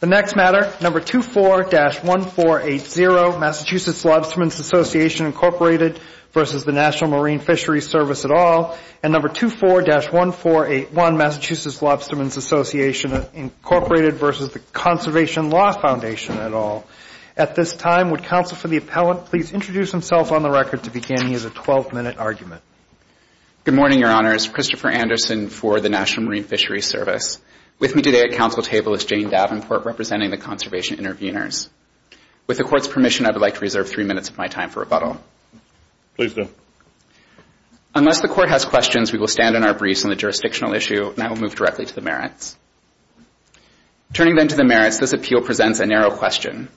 The next matter, No. 24-1480, Massachusetts Lobstermen's Association, Inc. v. National Marine Fisheries Service, et al. and No. 24-1481, Massachusetts Lobstermen's Association, Inc. v. Conservation Law Foundation, et al. At this time, would counsel for the appellant please introduce himself on the record to begin. He has a 12-minute argument. Good morning, Your Honors. Christopher Anderson for the National Marine Fisheries Service. With me today at council table is Jane Davenport, representing the conservation intervenors. With the Court's permission, I would like to reserve three minutes of my time for rebuttal. Please do. Unless the Court has questions, we will stand on our briefs on the jurisdictional issue, and I will move directly to the merits. Turning then to the merits, this appeal presents a narrow question.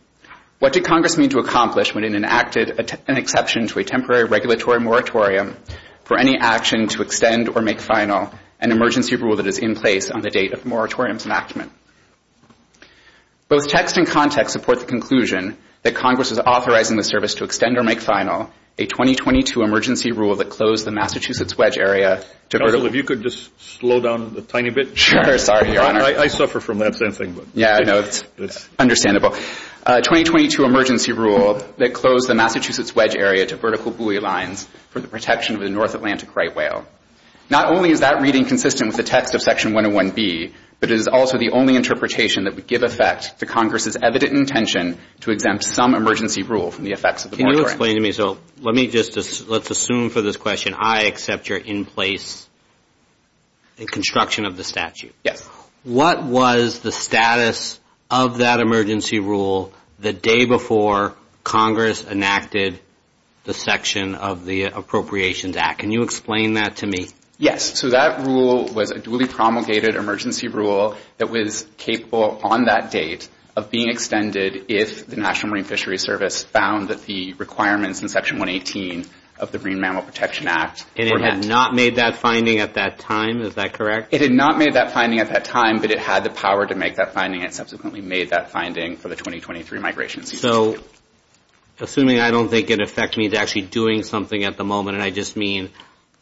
What did Congress mean to accomplish when it enacted an exception to a temporary regulatory moratorium for any action to extend or make final an emergency rule that is in place on the date of moratorium's enactment? Both text and context support the conclusion that Congress is authorizing the service to extend or make final a 2022 emergency rule that closed the Massachusetts wedge area to vertical buoy lines. Counsel, if you could just slow down a tiny bit. Sure. Sorry, Your Honor. I suffer from that same thing. Yeah, I know. It's understandable. A 2022 emergency rule that closed the Massachusetts wedge area to vertical buoy lines for the protection of the North Atlantic right whale. Not only is that reading consistent with the text of Section 101B, but it is also the only interpretation that would give effect to Congress's evident intention to exempt some emergency rule from the effects of the moratorium. Can you explain to me? So let's assume for this question I accept you're in place in construction of the statute. Yes. What was the status of that emergency rule the day before Congress enacted the section of the Appropriations Act? Can you explain that to me? Yes. So that rule was a duly promulgated emergency rule that was capable on that date of being extended if the National Marine Fisheries Service found that the requirements in Section 118 of the Marine Mammal Protection Act were met. And it had not made that finding at that time? Is that correct? It had not made that finding at that time, but it had the power to make that finding and subsequently made that finding for the 2023 migration. So assuming I don't think it would affect me to actually doing something at the moment, and I just mean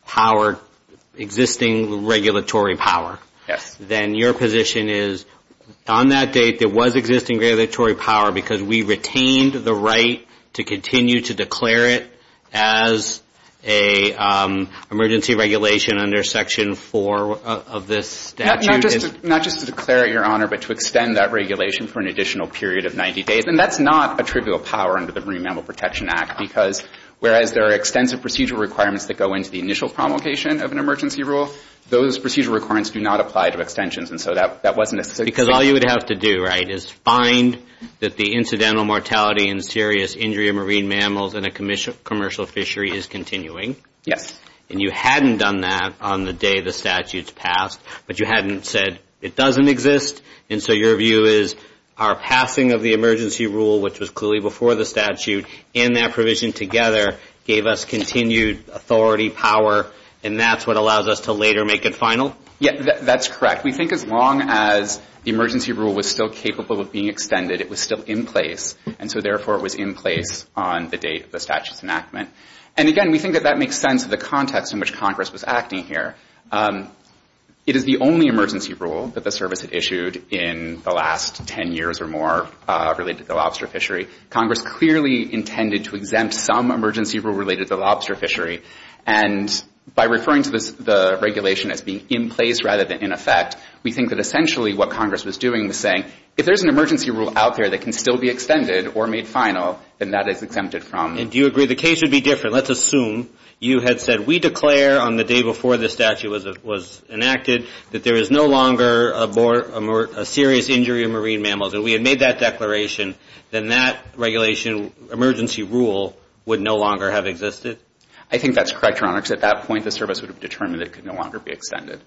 power, existing regulatory power. Yes. Then your position is on that date there was existing regulatory power because we retained the right to continue to declare it as an emergency regulation under Section 4 of this statute? Not just to declare it, Your Honor, but to extend that regulation for an additional period of 90 days. And that's not a trivial power under the Marine Mammal Protection Act, because whereas there are extensive procedural requirements that go into the initial promulgation of an emergency rule, those procedural requirements do not apply to extensions. And so that wasn't necessary. Because all you would have to do, right, is find that the incidental mortality and serious injury of marine mammals in a commercial fishery is continuing. Yes. And you hadn't done that on the day the statute's passed, but you hadn't said it doesn't exist. And so your view is our passing of the emergency rule, which was clearly before the statute, and that provision together gave us continued authority, power, and that's what allows us to later make it final? Yes, that's correct. We think as long as the emergency rule was still capable of being extended, it was still in place. And so, therefore, it was in place on the date of the statute's enactment. And, again, we think that that makes sense of the context in which Congress was acting here. It is the only emergency rule that the Service had issued in the last 10 years or more related to the lobster fishery. Congress clearly intended to exempt some emergency rule related to the lobster fishery. And by referring to the regulation as being in place rather than in effect, we think that essentially what Congress was doing was saying, if there's an emergency rule out there that can still be extended or made final, then that is exempted from. And do you agree the case would be different? Let's assume you had said, we declare on the day before the statute was enacted that there is no longer a serious injury of marine mammals, and we had made that declaration, then that regulation, emergency rule, would no longer have existed? I think that's correct, Your Honor, because at that point the Service would have determined it could no longer be extended.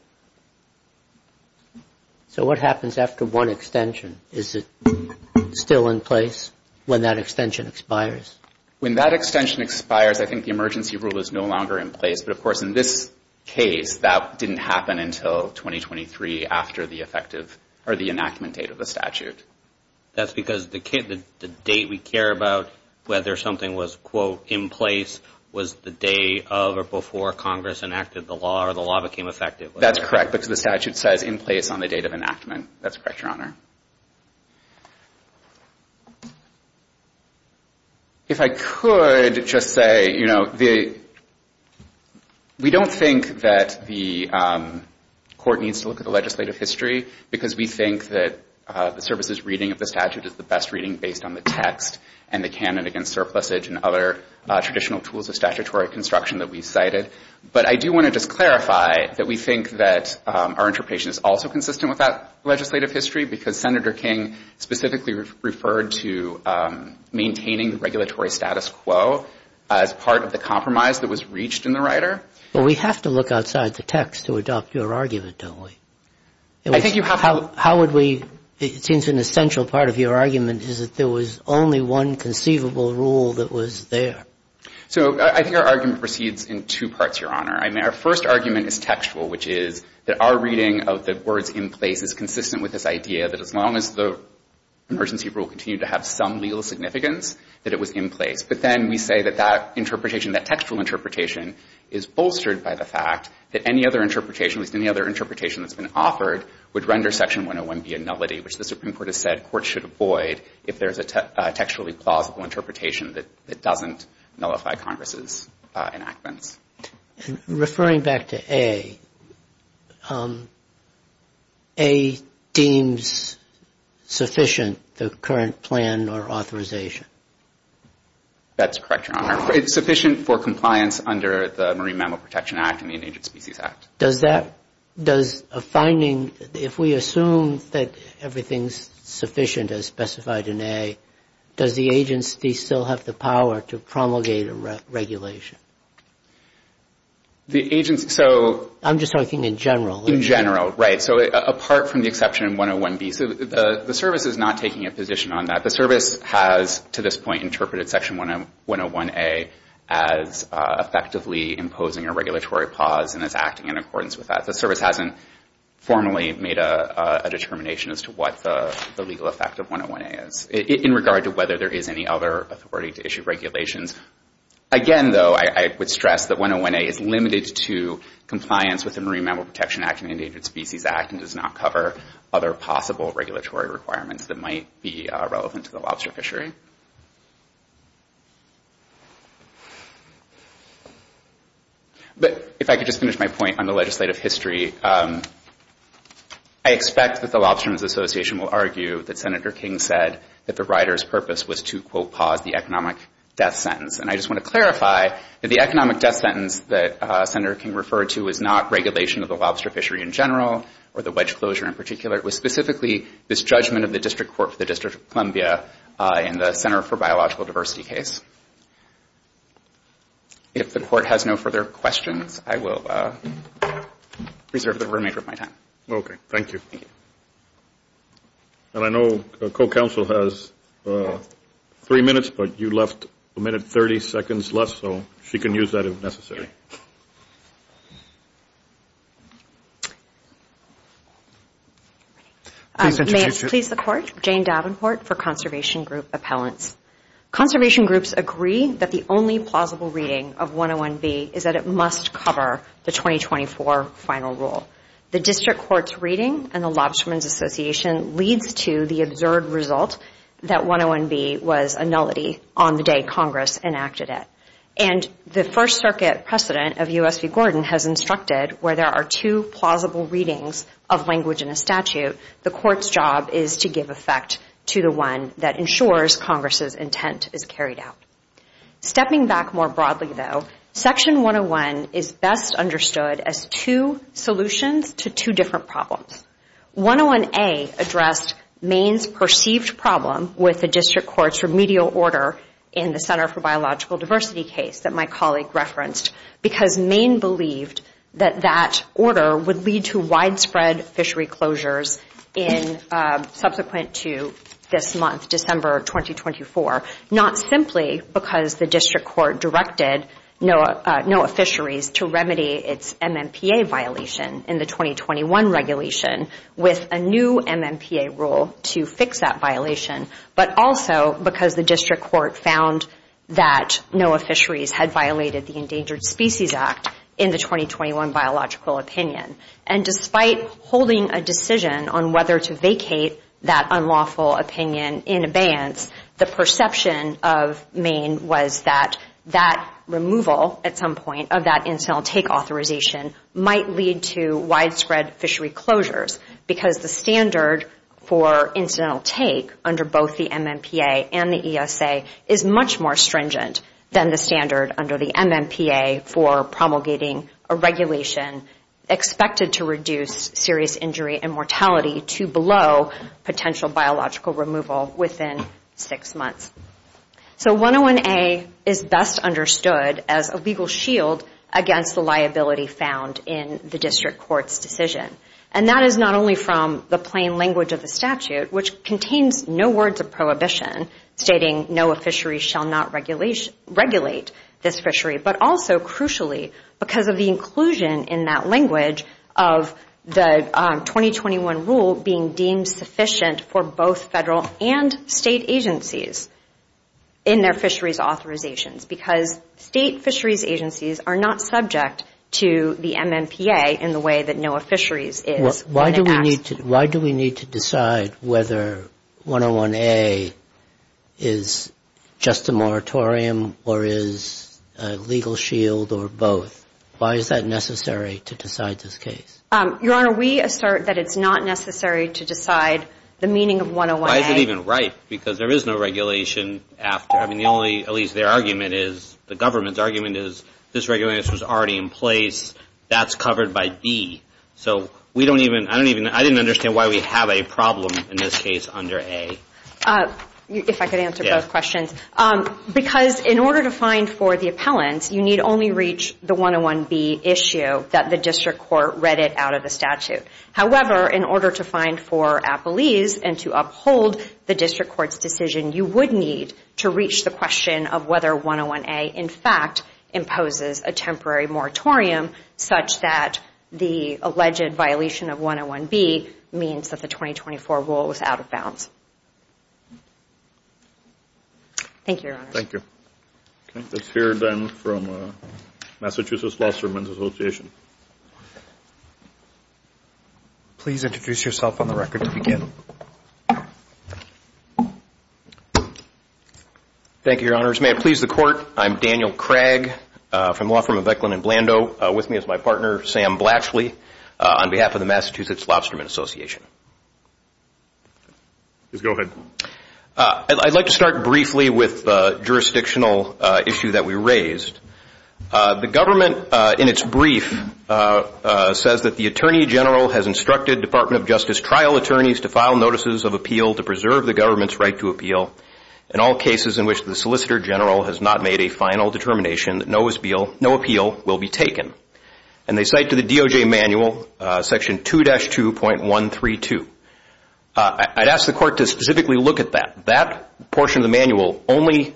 So what happens after one extension? Is it still in place when that extension expires? When that extension expires, I think the emergency rule is no longer in place. But, of course, in this case, that didn't happen until 2023 after the effective or the enactment date of the statute. That's because the date we care about, whether something was, quote, in place, was the day of or before Congress enacted the law or the law became effective. That's correct, because the statute says in place on the date of enactment. That's correct, Your Honor. If I could just say, you know, we don't think that the court needs to look at the legislative history because we think that the Service's reading of the statute is the best reading based on the text and the canon against surplusage and other traditional tools of statutory construction that we cited. But I do want to just clarify that we think that our interpretation is also consistent with that legislative history because Senator King specifically referred to maintaining the regulatory status quo as part of the compromise that was reached in the rider. Well, we have to look outside the text to adopt your argument, don't we? I think you have to. How would we – it seems an essential part of your argument is that there was only one conceivable rule that was there. So I think our argument proceeds in two parts, Your Honor. I mean, our first argument is textual, which is that our reading of the words in place is consistent with this idea that as long as the emergency rule continued to have some legal significance, that it was in place. But then we say that that interpretation, that textual interpretation, is bolstered by the fact that any other interpretation, at least any other interpretation that's been offered, would render Section 101 be a nullity, which the Supreme Court has said courts should avoid if there's a textually plausible interpretation that doesn't nullify Congress's enactments. Referring back to A, A deems sufficient the current plan or authorization. That's correct, Your Honor. It's sufficient for compliance under the Marine Mammal Protection Act and the Endangered Species Act. Does a finding, if we assume that everything's sufficient as specified in A, does the agency still have the power to promulgate a regulation? The agency, so... I'm just talking in general. In general, right. So apart from the exception in 101B. So the service is not taking a position on that. The service has, to this point, interpreted Section 101A as effectively imposing a regulatory pause and is acting in accordance with that. The service hasn't formally made a determination as to what the legal effect of 101A is in regard to whether there is any other authority to issue regulations. Again, though, I would stress that 101A is limited to compliance with the Marine Mammal Protection Act and the Endangered Species Act and does not cover other possible regulatory requirements that might be relevant to the lobster fishery. But if I could just finish my point on the legislative history, I expect that the Lobsterman's Association will argue that Senator King said that the rider's purpose was to, quote, pause the economic death sentence. And I just want to clarify that the economic death sentence that Senator King referred to is not regulation of the lobster fishery in general or the wedge closure in particular. It was specifically this judgment of the District Court for the District of Columbia in the Center for Biological Diversity case. If the Court has no further questions, I will reserve the remainder of my time. Okay. Thank you. Thank you. And I know co-counsel has three minutes, but you left a minute 30 seconds less, so she can use that if necessary. May I please the Court? Jane Davenport for Conservation Group Appellants. Conservation groups agree that the only plausible reading of 101B is that it must cover the 2024 final rule. The District Court's reading and the Lobsterman's Association leads to the absurd result that 101B was a nullity on the day Congress enacted it. And the First Circuit precedent of U.S. v. Gordon has instructed where there are two plausible readings of language in a statute, the Court's job is to give effect to the one that ensures Congress's intent is carried out. Stepping back more broadly, though, Section 101 is best understood as two solutions to two different problems. 101A addressed Maine's perceived problem with the District Court's remedial order in the Center for Biological Diversity case that my colleague referenced because Maine believed that that order would lead to widespread fishery closures subsequent to this month, December 2024, not simply because the District Court directed NOAA fisheries to remedy its MMPA violation in the 2021 regulation with a new MMPA rule to fix that violation, but also because the District Court found that NOAA fisheries had violated the Endangered Species Act in the 2021 Biological Opinion. And despite holding a decision on whether to vacate that unlawful opinion in abeyance, the perception of Maine was that that removal at some point of that incidental take authorization might lead to widespread fishery closures because the standard for incidental take under both the MMPA and the ESA is much more stringent than the standard under the MMPA for promulgating a regulation expected to reduce serious injury and mortality to below potential biological removal within six months. So 101A is best understood as a legal shield against the liability found in the District Court's decision. And that is not only from the plain language of the statute, which contains no words of prohibition stating NOAA fisheries shall not regulate this fishery, but also crucially because of the inclusion in that language of the 2021 rule being deemed sufficient for both federal and state agencies in their fisheries authorizations because state fisheries agencies are not subject to the MMPA in the way that NOAA fisheries is. Why do we need to decide whether 101A is just a moratorium or is a legal shield or both? Why is that necessary to decide this case? Your Honor, we assert that it's not necessary to decide the meaning of 101A. Why is it even right? Because there is no regulation after. I mean, the only, at least their argument is, the government's argument is, this regulation is already in place. That's covered by B. So we don't even, I don't even, I didn't understand why we have a problem in this case under A. If I could answer both questions. Because in order to find for the appellants, you need only reach the 101B issue that the district court read it out of the statute. However, in order to find for appellees and to uphold the district court's decision, you would need to reach the question of whether 101A in fact imposes a temporary moratorium such that the alleged violation of 101B means that the 2024 rule is out of bounds. Thank you, Your Honor. Thank you. Okay, let's hear then from Massachusetts Law Ceremonies Association. Please introduce yourself on the record to begin. Thank you, Your Honor. First, may it please the Court, I'm Daniel Craig from the law firm of Eklund & Blando. With me is my partner, Sam Blatchley, on behalf of the Massachusetts Lobstermen Association. Please go ahead. I'd like to start briefly with the jurisdictional issue that we raised. The government, in its brief, says that the Attorney General has instructed Department of Justice trial attorneys to file notices of appeal to preserve the government's right to appeal in all cases in which the Solicitor General has not made a final determination that no appeal will be taken. And they cite to the DOJ manual section 2-2.132. I'd ask the Court to specifically look at that. That portion of the manual only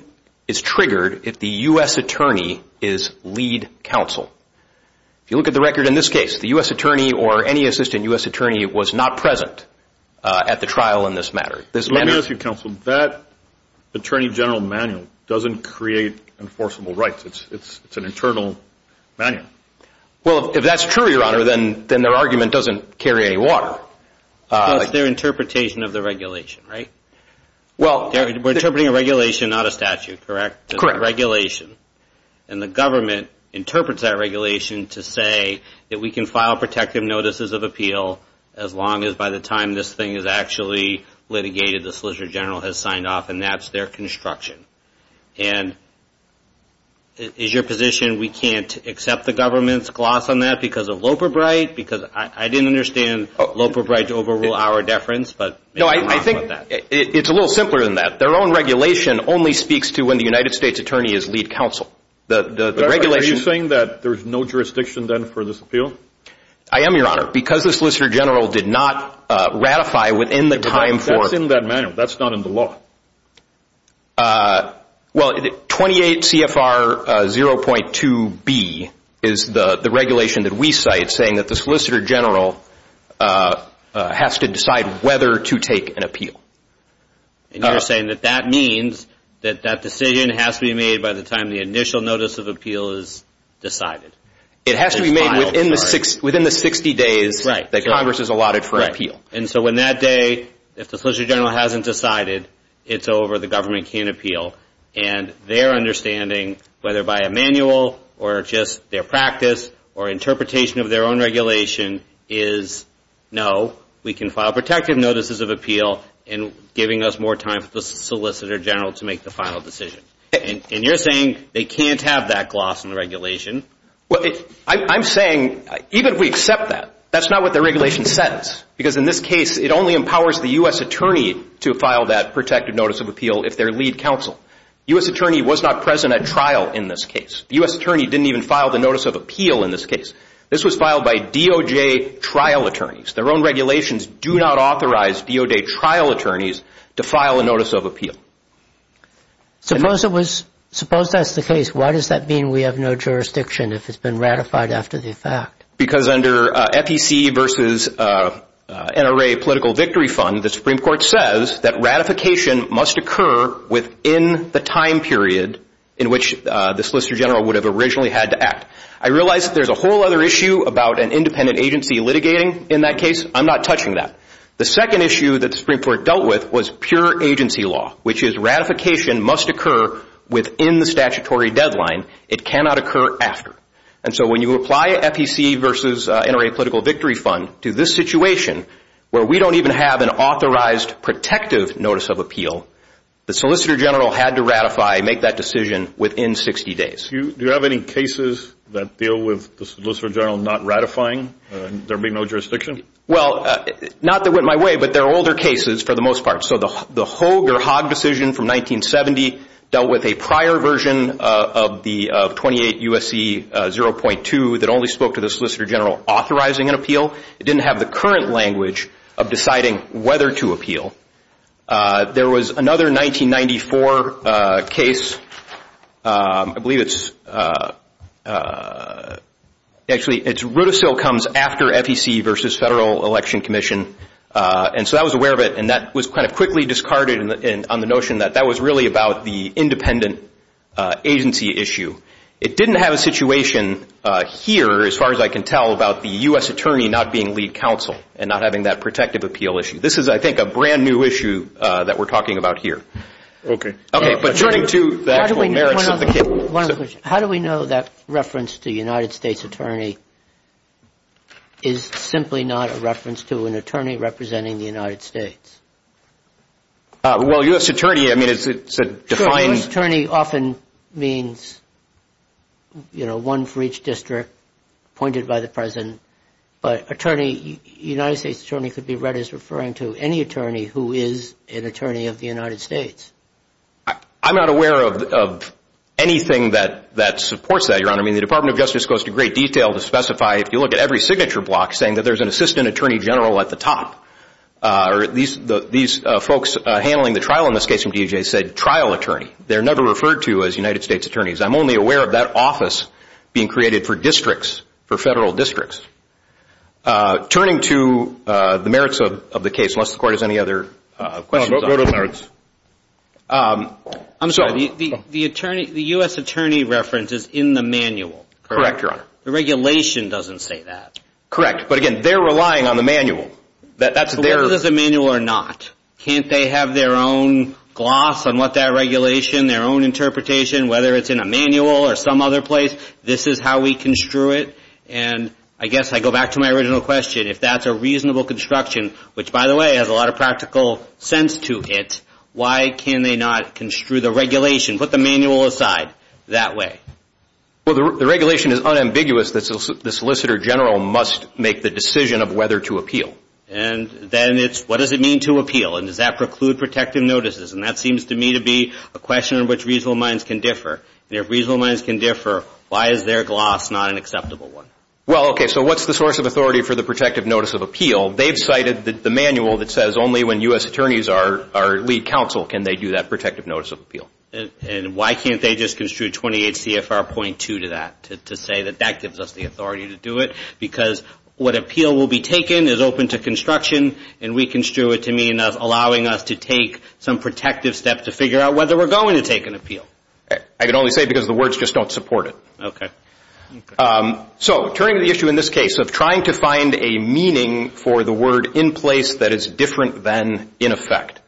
is triggered if the U.S. Attorney is lead counsel. If you look at the record in this case, the U.S. Attorney or any assistant U.S. Attorney was not present at the trial in this matter. Let me ask you, Counsel. That Attorney General manual doesn't create enforceable rights. It's an internal manual. Well, if that's true, Your Honor, then their argument doesn't carry any water. It's their interpretation of the regulation, right? We're interpreting a regulation, not a statute, correct? Correct. It's a regulation. And the government interprets that regulation to say that we can file protective notices of appeal as long as by the time this thing is actually litigated, the Solicitor General has signed off, and that's their construction. And is your position we can't accept the government's gloss on that because of Loper Bright? Because I didn't understand Loper Bright's overrule hour deference, but maybe I'm wrong about that. No, I think it's a little simpler than that. Their own regulation only speaks to when the United States Attorney is lead counsel. Are you saying that there's no jurisdiction then for this appeal? I am, Your Honor. Because the Solicitor General did not ratify within the time for... That's in that manual. That's not in the law. Well, 28 CFR 0.2B is the regulation that we cite, saying that the Solicitor General has to decide whether to take an appeal. And you're saying that that means that that decision has to be made by the time the initial notice of appeal is decided? It has to be made within the 60 days that Congress has allotted for appeal. And so on that day, if the Solicitor General hasn't decided, it's over, the government can't appeal. And their understanding, whether by a manual or just their practice or interpretation of their own regulation, is no, we can file protective notices of appeal and giving us more time for the Solicitor General to make the final decision. And you're saying they can't have that gloss in the regulation Well, I'm saying, even if we accept that, that's not what the regulation says. Because in this case, it only empowers the U.S. attorney to file that protective notice of appeal if they're lead counsel. The U.S. attorney was not present at trial in this case. The U.S. attorney didn't even file the notice of appeal in this case. This was filed by DOJ trial attorneys. Their own regulations do not authorize DOJ trial attorneys to file a notice of appeal. Suppose that's the case. Why does that mean we have no jurisdiction if it's been ratified after the fact? Because under FEC versus NRA Political Victory Fund, the Supreme Court says that ratification must occur within the time period in which the Solicitor General would have originally had to act. I realize that there's a whole other issue about an independent agency litigating in that case. I'm not touching that. The second issue that the Supreme Court dealt with was pure agency law, which is ratification must occur within the statutory deadline. It cannot occur after. And so when you apply FEC versus NRA Political Victory Fund to this situation, where we don't even have an authorized protective notice of appeal, the Solicitor General had to ratify, make that decision within 60 days. Do you have any cases that deal with the Solicitor General not ratifying, there being no jurisdiction? Well, not that it went my way, but there are older cases for the most part. So the Hogg decision from 1970 dealt with a prior version of 28 U.S.C. 0.2 that only spoke to the Solicitor General authorizing an appeal. It didn't have the current language of deciding whether to appeal. There was another 1994 case. I believe it's – actually, it's – it still comes after FEC versus Federal Election Commission. And so I was aware of it, and that was kind of quickly discarded on the notion that that was really about the independent agency issue. It didn't have a situation here, as far as I can tell, about the U.S. Attorney not being lead counsel and not having that protective appeal issue. This is, I think, a brand-new issue that we're talking about here. Okay. Okay. But turning to the actual merits of the case. One other question. How do we know that reference to United States Attorney is simply not a reference to an attorney representing the United States? Well, U.S. Attorney, I mean, it's a defined – U.S. Attorney often means, you know, one for each district appointed by the president. But attorney – United States Attorney could be read as referring to any attorney who is an attorney of the United States. I'm not aware of anything that supports that, Your Honor. I mean, the Department of Justice goes to great detail to specify, if you look at every signature block, saying that there's an assistant attorney general at the top. These folks handling the trial in this case from DEJ said trial attorney. They're never referred to as United States attorneys. I'm only aware of that office being created for districts, for federal districts. Turning to the merits of the case, unless the court has any other questions on it. Go to the merits. I'm sorry. The U.S. Attorney reference is in the manual. Correct, Your Honor. The regulation doesn't say that. Correct. But again, they're relying on the manual. That's their – Whether it's a manual or not, can't they have their own gloss on what that regulation, their own interpretation, whether it's in a manual or some other place? This is how we construe it. And I guess I go back to my original question. If that's a reasonable construction, which, by the way, has a lot of practical sense to it, why can they not construe the regulation, put the manual aside, that way? Well, the regulation is unambiguous. The solicitor general must make the decision of whether to appeal. And then it's what does it mean to appeal, and does that preclude protective notices? And that seems to me to be a question in which reasonable minds can differ. And if reasonable minds can differ, why is their gloss not an acceptable one? Well, okay, so what's the source of authority for the protective notice of appeal? They've cited the manual that says only when U.S. attorneys are lead counsel can they do that protective notice of appeal. And why can't they just construe 28 CFR.2 to that to say that that gives us the authority to do it? Because what appeal will be taken is open to construction, and we construe it to mean allowing us to take some protective steps to figure out whether we're going to take an appeal. I can only say because the words just don't support it. So turning to the issue in this case of trying to find a meaning for the word in place that is different than in effect.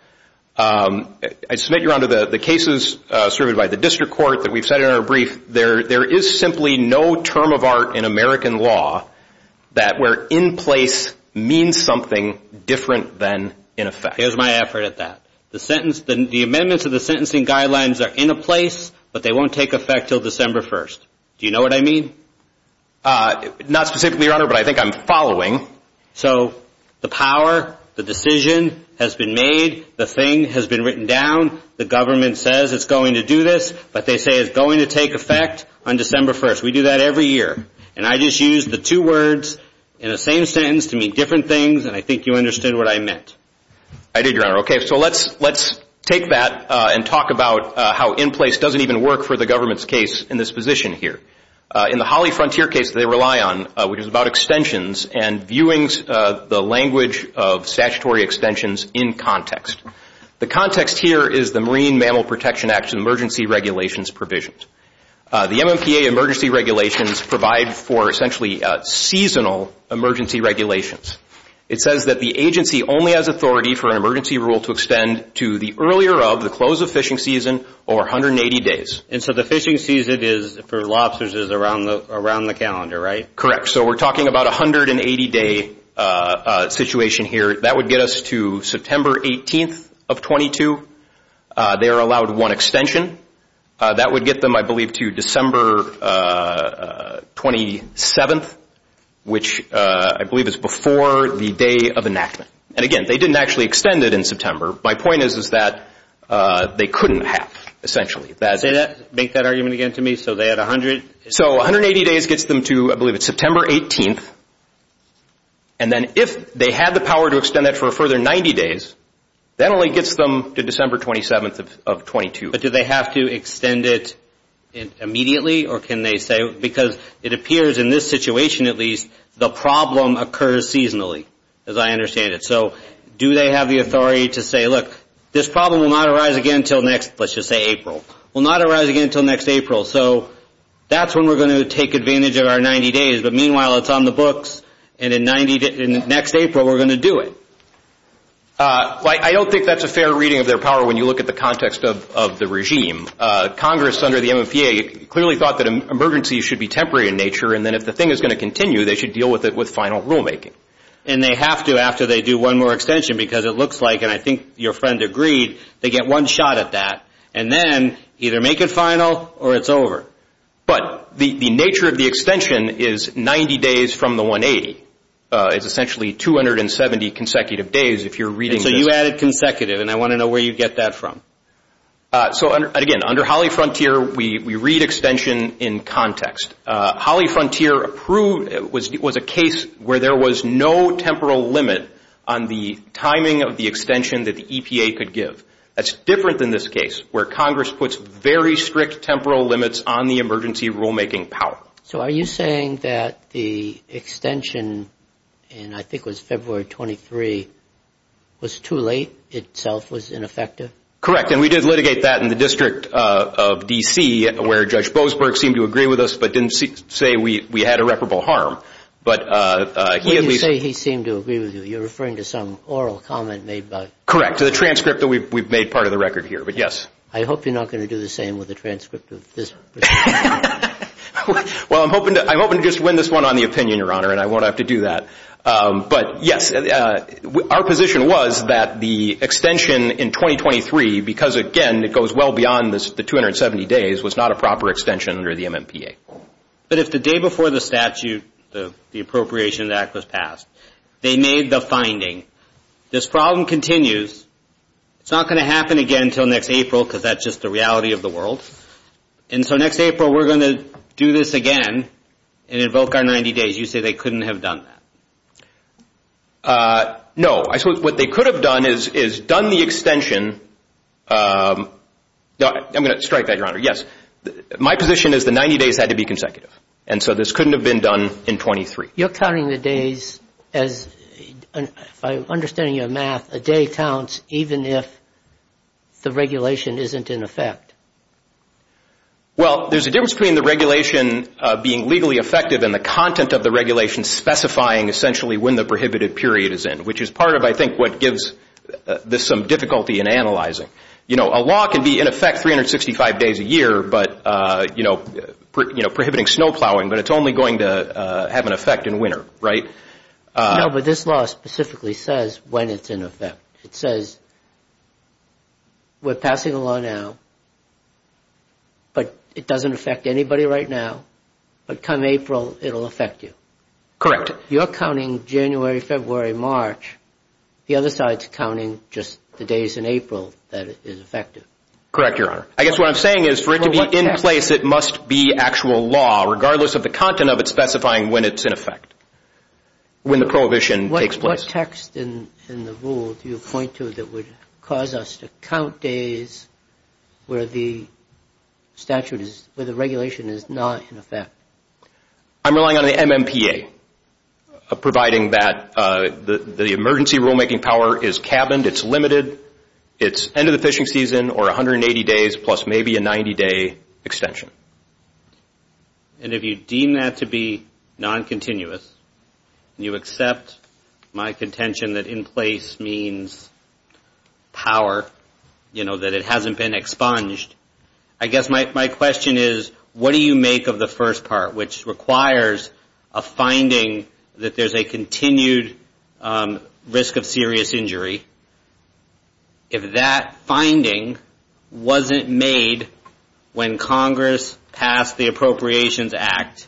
I submit you're onto the cases served by the district court that we've cited in our brief. There is simply no term of art in American law that where in place means something different than in effect. Here's my effort at that. The sentence, the amendments of the sentencing guidelines are in a place, but they won't take effect until December 1st. Do you know what I mean? Not specifically, Your Honor, but I think I'm following. So the power, the decision has been made, the thing has been written down, the government says it's going to do this, but they say it's going to take effect on December 1st. We do that every year. And I just used the two words in the same sentence to mean different things, and I think you understood what I meant. I did, Your Honor. Okay, so let's take that and talk about how in place doesn't even work for the government's case in this position here. In the Holly Frontier case they rely on, which is about extensions and viewing the language of statutory extensions in context. The context here is the Marine Mammal Protection Act emergency regulations provisions. The MMPA emergency regulations provide for essentially seasonal emergency regulations. It says that the agency only has authority for an emergency rule to extend to the earlier of, the close of fishing season, or 180 days. And so the fishing season for lobsters is around the calendar, right? Correct. So we're talking about a 180-day situation here. That would get us to September 18th of 22. They are allowed one extension. That would get them, I believe, to December 27th, which I believe is before the day of enactment. And again, they didn't actually extend it in September. My point is that they couldn't have, essentially. Say that, make that argument again to me. So they had 100? So 180 days gets them to, I believe it's September 18th. And then if they had the power to extend that for a further 90 days, that only gets them to December 27th of 22. But do they have to extend it immediately? Or can they say, because it appears in this situation, at least, the problem occurs seasonally, as I understand it. So do they have the authority to say, look, this problem will not arise again until next, let's just say April. Will not arise again until next April. So that's when we're going to take advantage of our 90 days. But meanwhile, it's on the books. And in next April, we're going to do it. I don't think that's a fair reading of their power when you look at the context of the regime. Congress, under the MMPA, clearly thought that emergencies should be temporary in nature. And then if the thing is going to continue, they should deal with it with final rulemaking. And they have to after they do one more extension because it looks like, and I think your friend agreed, they get one shot at that and then either make it final or it's over. But the nature of the extension is 90 days from the 180. It's essentially 270 consecutive days if you're reading this. So you added consecutive, and I want to know where you get that from. So, again, under Holly Frontier, we read extension in context. Holly Frontier was a case where there was no temporal limit on the timing of the extension that the EPA could give. That's different than this case where Congress puts very strict temporal limits on the emergency rulemaking power. So are you saying that the extension, and I think it was February 23, was too late, itself was ineffective? Correct. And we did litigate that in the District of D.C. where Judge Bozberg seemed to agree with us but didn't say we had irreparable harm. He didn't say he seemed to agree with you. You're referring to some oral comment made by – Correct, to the transcript that we've made part of the record here, but yes. I hope you're not going to do the same with the transcript of this. Well, I'm hoping to just win this one on the opinion, Your Honor, and I won't have to do that. But, yes, our position was that the extension in 2023, because, again, it goes well beyond the 270 days, was not a proper extension under the MMPA. But if the day before the statute, the Appropriations Act was passed, they made the finding, this problem continues. It's not going to happen again until next April because that's just the reality of the world. And so next April we're going to do this again and invoke our 90 days. You say they couldn't have done that. No. I suppose what they could have done is done the extension – I'm going to strike that, Your Honor. Yes. My position is the 90 days had to be consecutive. And so this couldn't have been done in 23. You're counting the days as, if I'm understanding your math, a day counts even if the regulation isn't in effect. Well, there's a difference between the regulation being legally effective and the content of the regulation specifying essentially when the prohibited period is in, which is part of, I think, what gives this some difficulty in analyzing. You know, a law can be in effect 365 days a year, but, you know, prohibiting snow plowing, but it's only going to have an effect in winter, right? No, but this law specifically says when it's in effect. It says we're passing a law now, but it doesn't affect anybody right now, but come April it'll affect you. Correct. You're counting January, February, March. The other side's counting just the days in April that it is effective. Correct, Your Honor. I guess what I'm saying is for it to be in place, it must be actual law, regardless of the content of it specifying when it's in effect, when the prohibition takes place. What text in the rule do you point to that would cause us to count days where the statute is, where the regulation is not in effect? I'm relying on the MMPA, providing that the emergency rulemaking power is cabined, it's limited, it's end of the fishing season or 180 days plus maybe a 90-day extension. And if you deem that to be non-continuous and you accept my contention that in place means power, you know, that it hasn't been expunged, I guess my question is what do you make of the first part, which requires a finding that there's a continued risk of serious injury. If that finding wasn't made when Congress passed the Appropriations Act,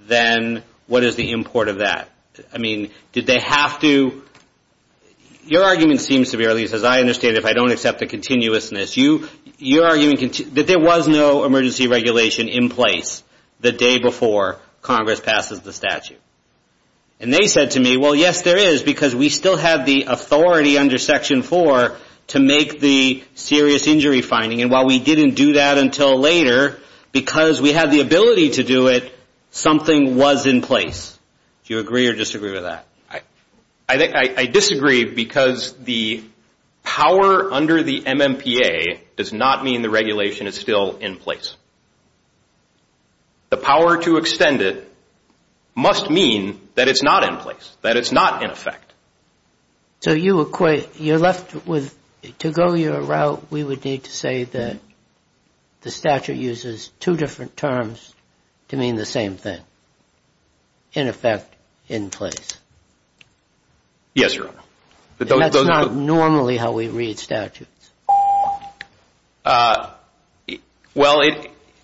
then what is the import of that? I mean, did they have to – your argument seems to be, or at least as I understand it, if I don't accept the continuousness, you're arguing that there was no emergency regulation in place the day before Congress passes the statute. And they said to me, well, yes, there is, because we still have the authority under Section 4 to make the serious injury finding, and while we didn't do that until later, because we had the ability to do it, something was in place. Do you agree or disagree with that? I disagree because the power under the MMPA does not mean the regulation is still in place. The power to extend it must mean that it's not in place, that it's not in effect. So you equate – you're left with – to go your route, we would need to say that the statute uses two different terms to mean the same thing, in effect, in place. Yes, Your Honor. That's not normally how we read statutes. Well,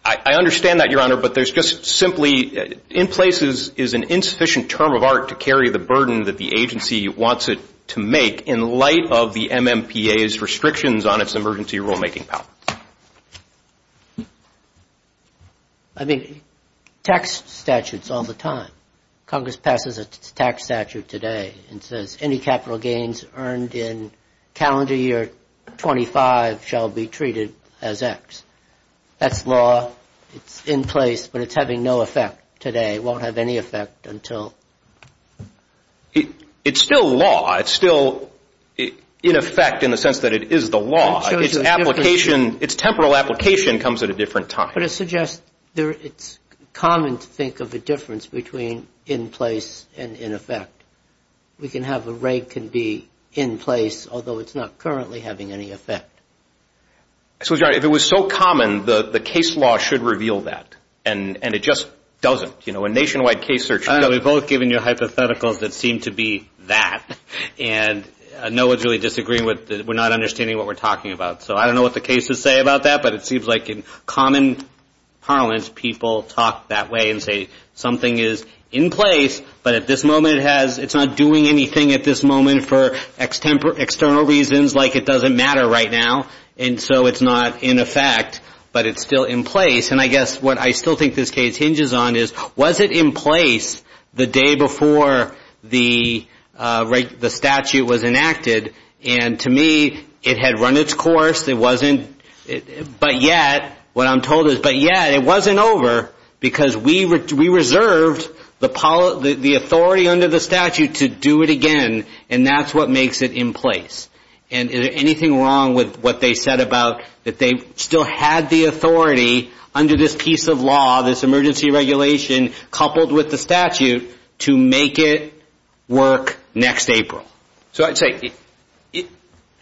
I understand that, Your Honor, but there's just simply – in place is an insufficient term of art to carry the burden that the agency wants it to make in light of the MMPA's restrictions on its emergency rulemaking powers. I mean, tax statutes all the time. Congress passes a tax statute today and says any capital gains earned in calendar year 25 shall be treated as X. That's law. It's in place, but it's having no effect today. It won't have any effect until – it's still law. It's still in effect in the sense that it is the law. Its application – its temporal application comes at a different time. But it suggests it's common to think of a difference between in place and in effect. We can have a rate can be in place, although it's not currently having any effect. So, Your Honor, if it was so common, the case law should reveal that, and it just doesn't. You know, a nationwide case search – Yeah, we've both given you hypotheticals that seem to be that. And no one's really disagreeing with – we're not understanding what we're talking about. So I don't know what the cases say about that, but it seems like in common parlance people talk that way and say something is in place, but at this moment it's not doing anything at this moment for external reasons, like it doesn't matter right now. And so it's not in effect, but it's still in place. And I guess what I still think this case hinges on is, was it in place the day before the statute was enacted? And to me it had run its course. It wasn't – but yet, what I'm told is, but yet it wasn't over because we reserved the authority under the statute to do it again, and that's what makes it in place. And is there anything wrong with what they said about that they still had the authority under this piece of law, this emergency regulation, coupled with the statute, to make it work next April? So I'd say,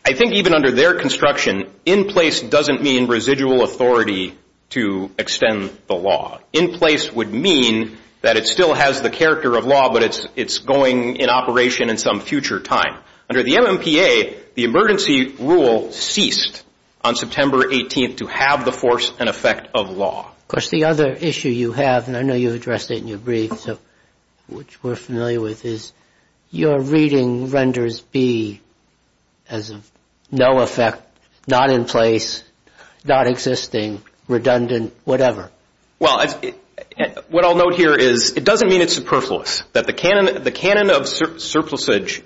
I think even under their construction, in place doesn't mean residual authority to extend the law. In place would mean that it still has the character of law, but it's going in operation in some future time. Under the MMPA, the emergency rule ceased on September 18th to have the force and effect of law. Of course, the other issue you have, and I know you addressed it in your brief, which we're familiar with, is your reading renders B as of no effect, not in place, not existing, redundant, whatever. Well, what I'll note here is it doesn't mean it's superfluous, that the canon of surplusage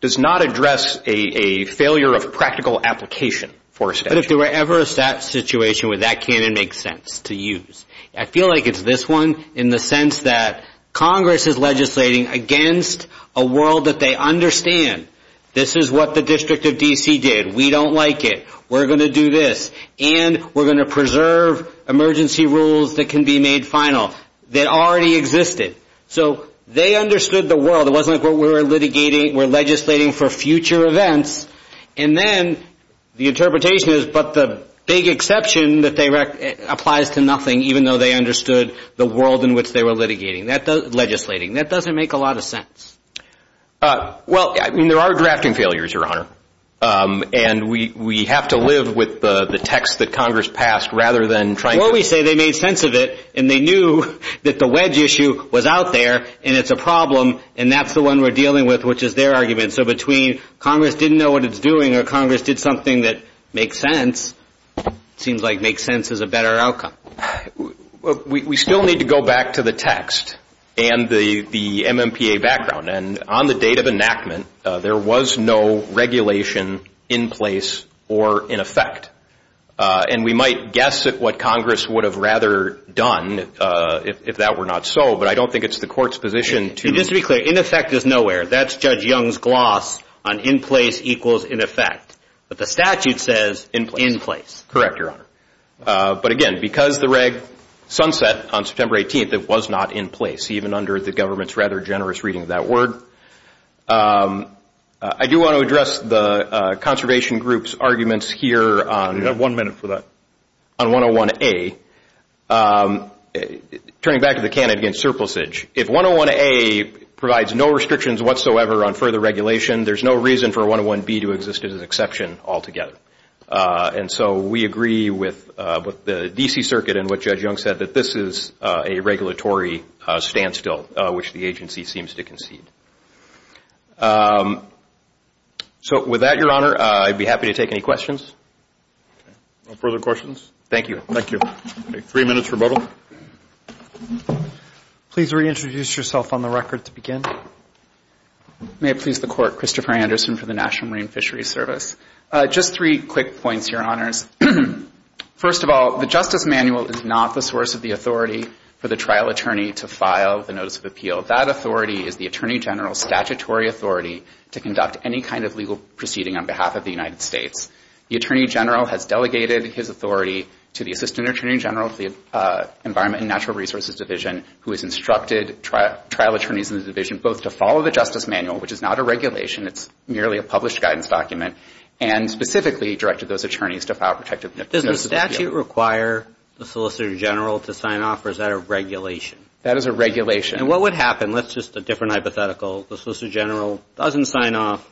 does not address a failure of practical application for a statute. But if there were ever a situation where that canon makes sense to use, I feel like it's this one in the sense that Congress is legislating against a world that they understand this is what the District of D.C. did, we don't like it, we're going to do this, and we're going to preserve emergency rules that can be made final that already existed. So they understood the world. It wasn't like what we were litigating, we're legislating for future events. And then the interpretation is, but the big exception that applies to nothing, even though they understood the world in which they were legislating. That doesn't make a lot of sense. Well, I mean, there are drafting failures, Your Honor. And we have to live with the text that Congress passed rather than trying to- Well, we say they made sense of it, and they knew that the wedge issue was out there, and it's a problem, and that's the one we're dealing with, which is their argument. So between Congress didn't know what it's doing or Congress did something that makes sense, it seems like makes sense is a better outcome. We still need to go back to the text and the MMPA background. And on the date of enactment, there was no regulation in place or in effect. And we might guess at what Congress would have rather done if that were not so, but I don't think it's the court's position to- And just to be clear, in effect is nowhere. That's Judge Young's gloss on in place equals in effect. But the statute says in place. Correct, Your Honor. But again, because the reg sunset on September 18th, it was not in place, even under the government's rather generous reading of that word. I do want to address the conservation group's arguments here on- You have one minute for that. On 101A, turning back to the candidate against surplusage. If 101A provides no restrictions whatsoever on further regulation, there's no reason for 101B to exist as an exception altogether. And so we agree with the D.C. Circuit and what Judge Young said, that this is a regulatory standstill, which the agency seems to concede. So with that, Your Honor, I'd be happy to take any questions. No further questions. Thank you. Thank you. Three minutes rebuttal. Please reintroduce yourself on the record to begin. May it please the Court, Christopher Anderson for the National Marine Fisheries Service. Just three quick points, Your Honors. First of all, the Justice Manual is not the source of the authority for the trial attorney to file the Notice of Appeal. That authority is the Attorney General's statutory authority to conduct any kind of legal proceeding on behalf of the United States. The Attorney General has delegated his authority to the Assistant Attorney General of the Environment and Natural Resources Division, who has instructed trial attorneys in the division both to follow the Justice Manual, which is not a regulation, it's merely a published guidance document, and specifically directed those attorneys to file protective notices of appeal. Does the statute require the Solicitor General to sign off, or is that a regulation? That is a regulation. And what would happen? That's just a different hypothetical. The Solicitor General doesn't sign off,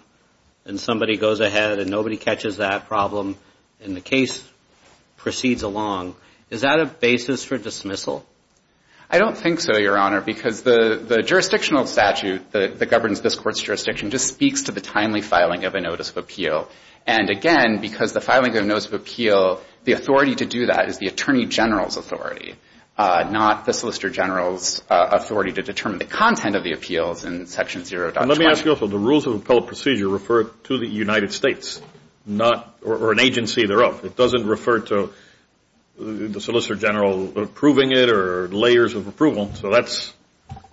and somebody goes ahead, and nobody catches that problem, and the case proceeds along. Is that a basis for dismissal? I don't think so, Your Honor, because the jurisdictional statute that governs this court's jurisdiction just speaks to the timely filing of a Notice of Appeal. And, again, because the filing of a Notice of Appeal, the authority to do that is the Attorney General's authority, not the Solicitor General's authority to determine the content of the appeals in Section 0.20. Let me ask you also, the rules of appellate procedure refer to the United States, or an agency thereof. It doesn't refer to the Solicitor General approving it or layers of approval.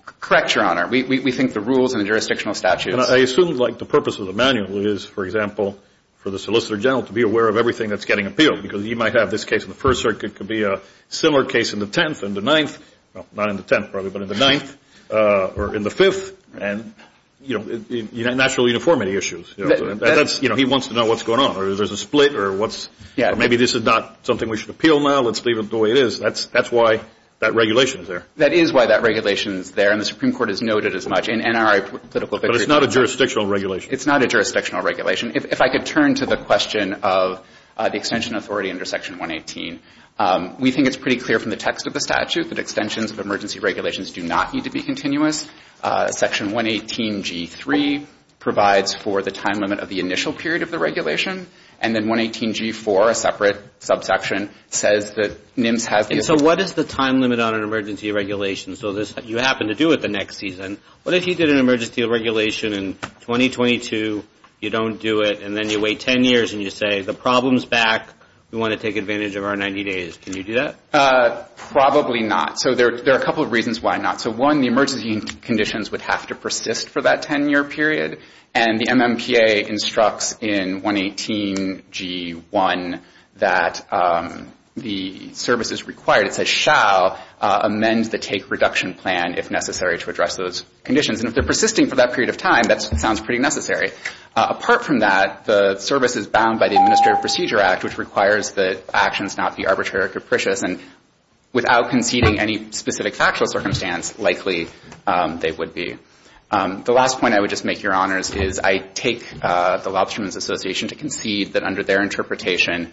Correct, Your Honor. We think the rules and the jurisdictional statutes. I assume, like, the purpose of the manual is, for example, for the Solicitor General to be aware of everything that's getting appealed, because he might have this case in the First Circuit, it could be a similar case in the Tenth, in the Ninth, not in the Tenth, probably, but in the Ninth, or in the Fifth, and, you know, national uniformity issues. That's, you know, he wants to know what's going on, or there's a split, or maybe this is not something we should appeal now, let's leave it the way it is. That's why that regulation is there. That is why that regulation is there, and the Supreme Court has noted as much in NRA political victories. But it's not a jurisdictional regulation. It's not a jurisdictional regulation. If I could turn to the question of the extension authority under Section 118. We think it's pretty clear from the text of the statute that extensions of emergency regulations do not need to be continuous. Section 118G3 provides for the time limit of the initial period of the regulation, and then 118G4, a separate subsection, says that NIMS has the ability to. So what is the time limit on an emergency regulation? So you happen to do it the next season. What if you did an emergency regulation in 2022, you don't do it, and then you wait 10 years, and you say, the problem's back, we want to take advantage of our 90 days. Can you do that? Probably not. So there are a couple of reasons why not. So, one, the emergency conditions would have to persist for that 10-year period, and the MMPA instructs in 118G1 that the services required, it says, And if they're persisting for that period of time, that sounds pretty necessary. Apart from that, the service is bound by the Administrative Procedure Act, which requires that actions not be arbitrary or capricious, and without conceding any specific factual circumstance, likely they would be. The last point I would just make, Your Honors, is I take the Lobsterman's Association to concede that under their interpretation,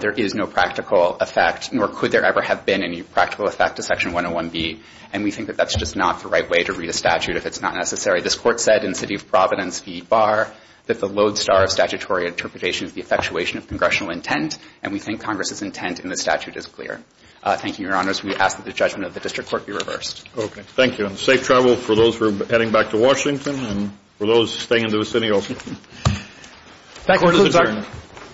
there is no practical effect, nor could there ever have been any practical effect, to Section 101B. And we think that that's just not the right way to read a statute if it's not necessary. This Court said in City of Providence v. Barr, that the lodestar of statutory interpretation is the effectuation of congressional intent, and we think Congress's intent in the statute is clear. Thank you, Your Honors. We ask that the judgment of the District Court be reversed. Okay. Thank you. And safe travel for those who are heading back to Washington and for those staying in the vicinity also. Thank you, Mr. Chairman.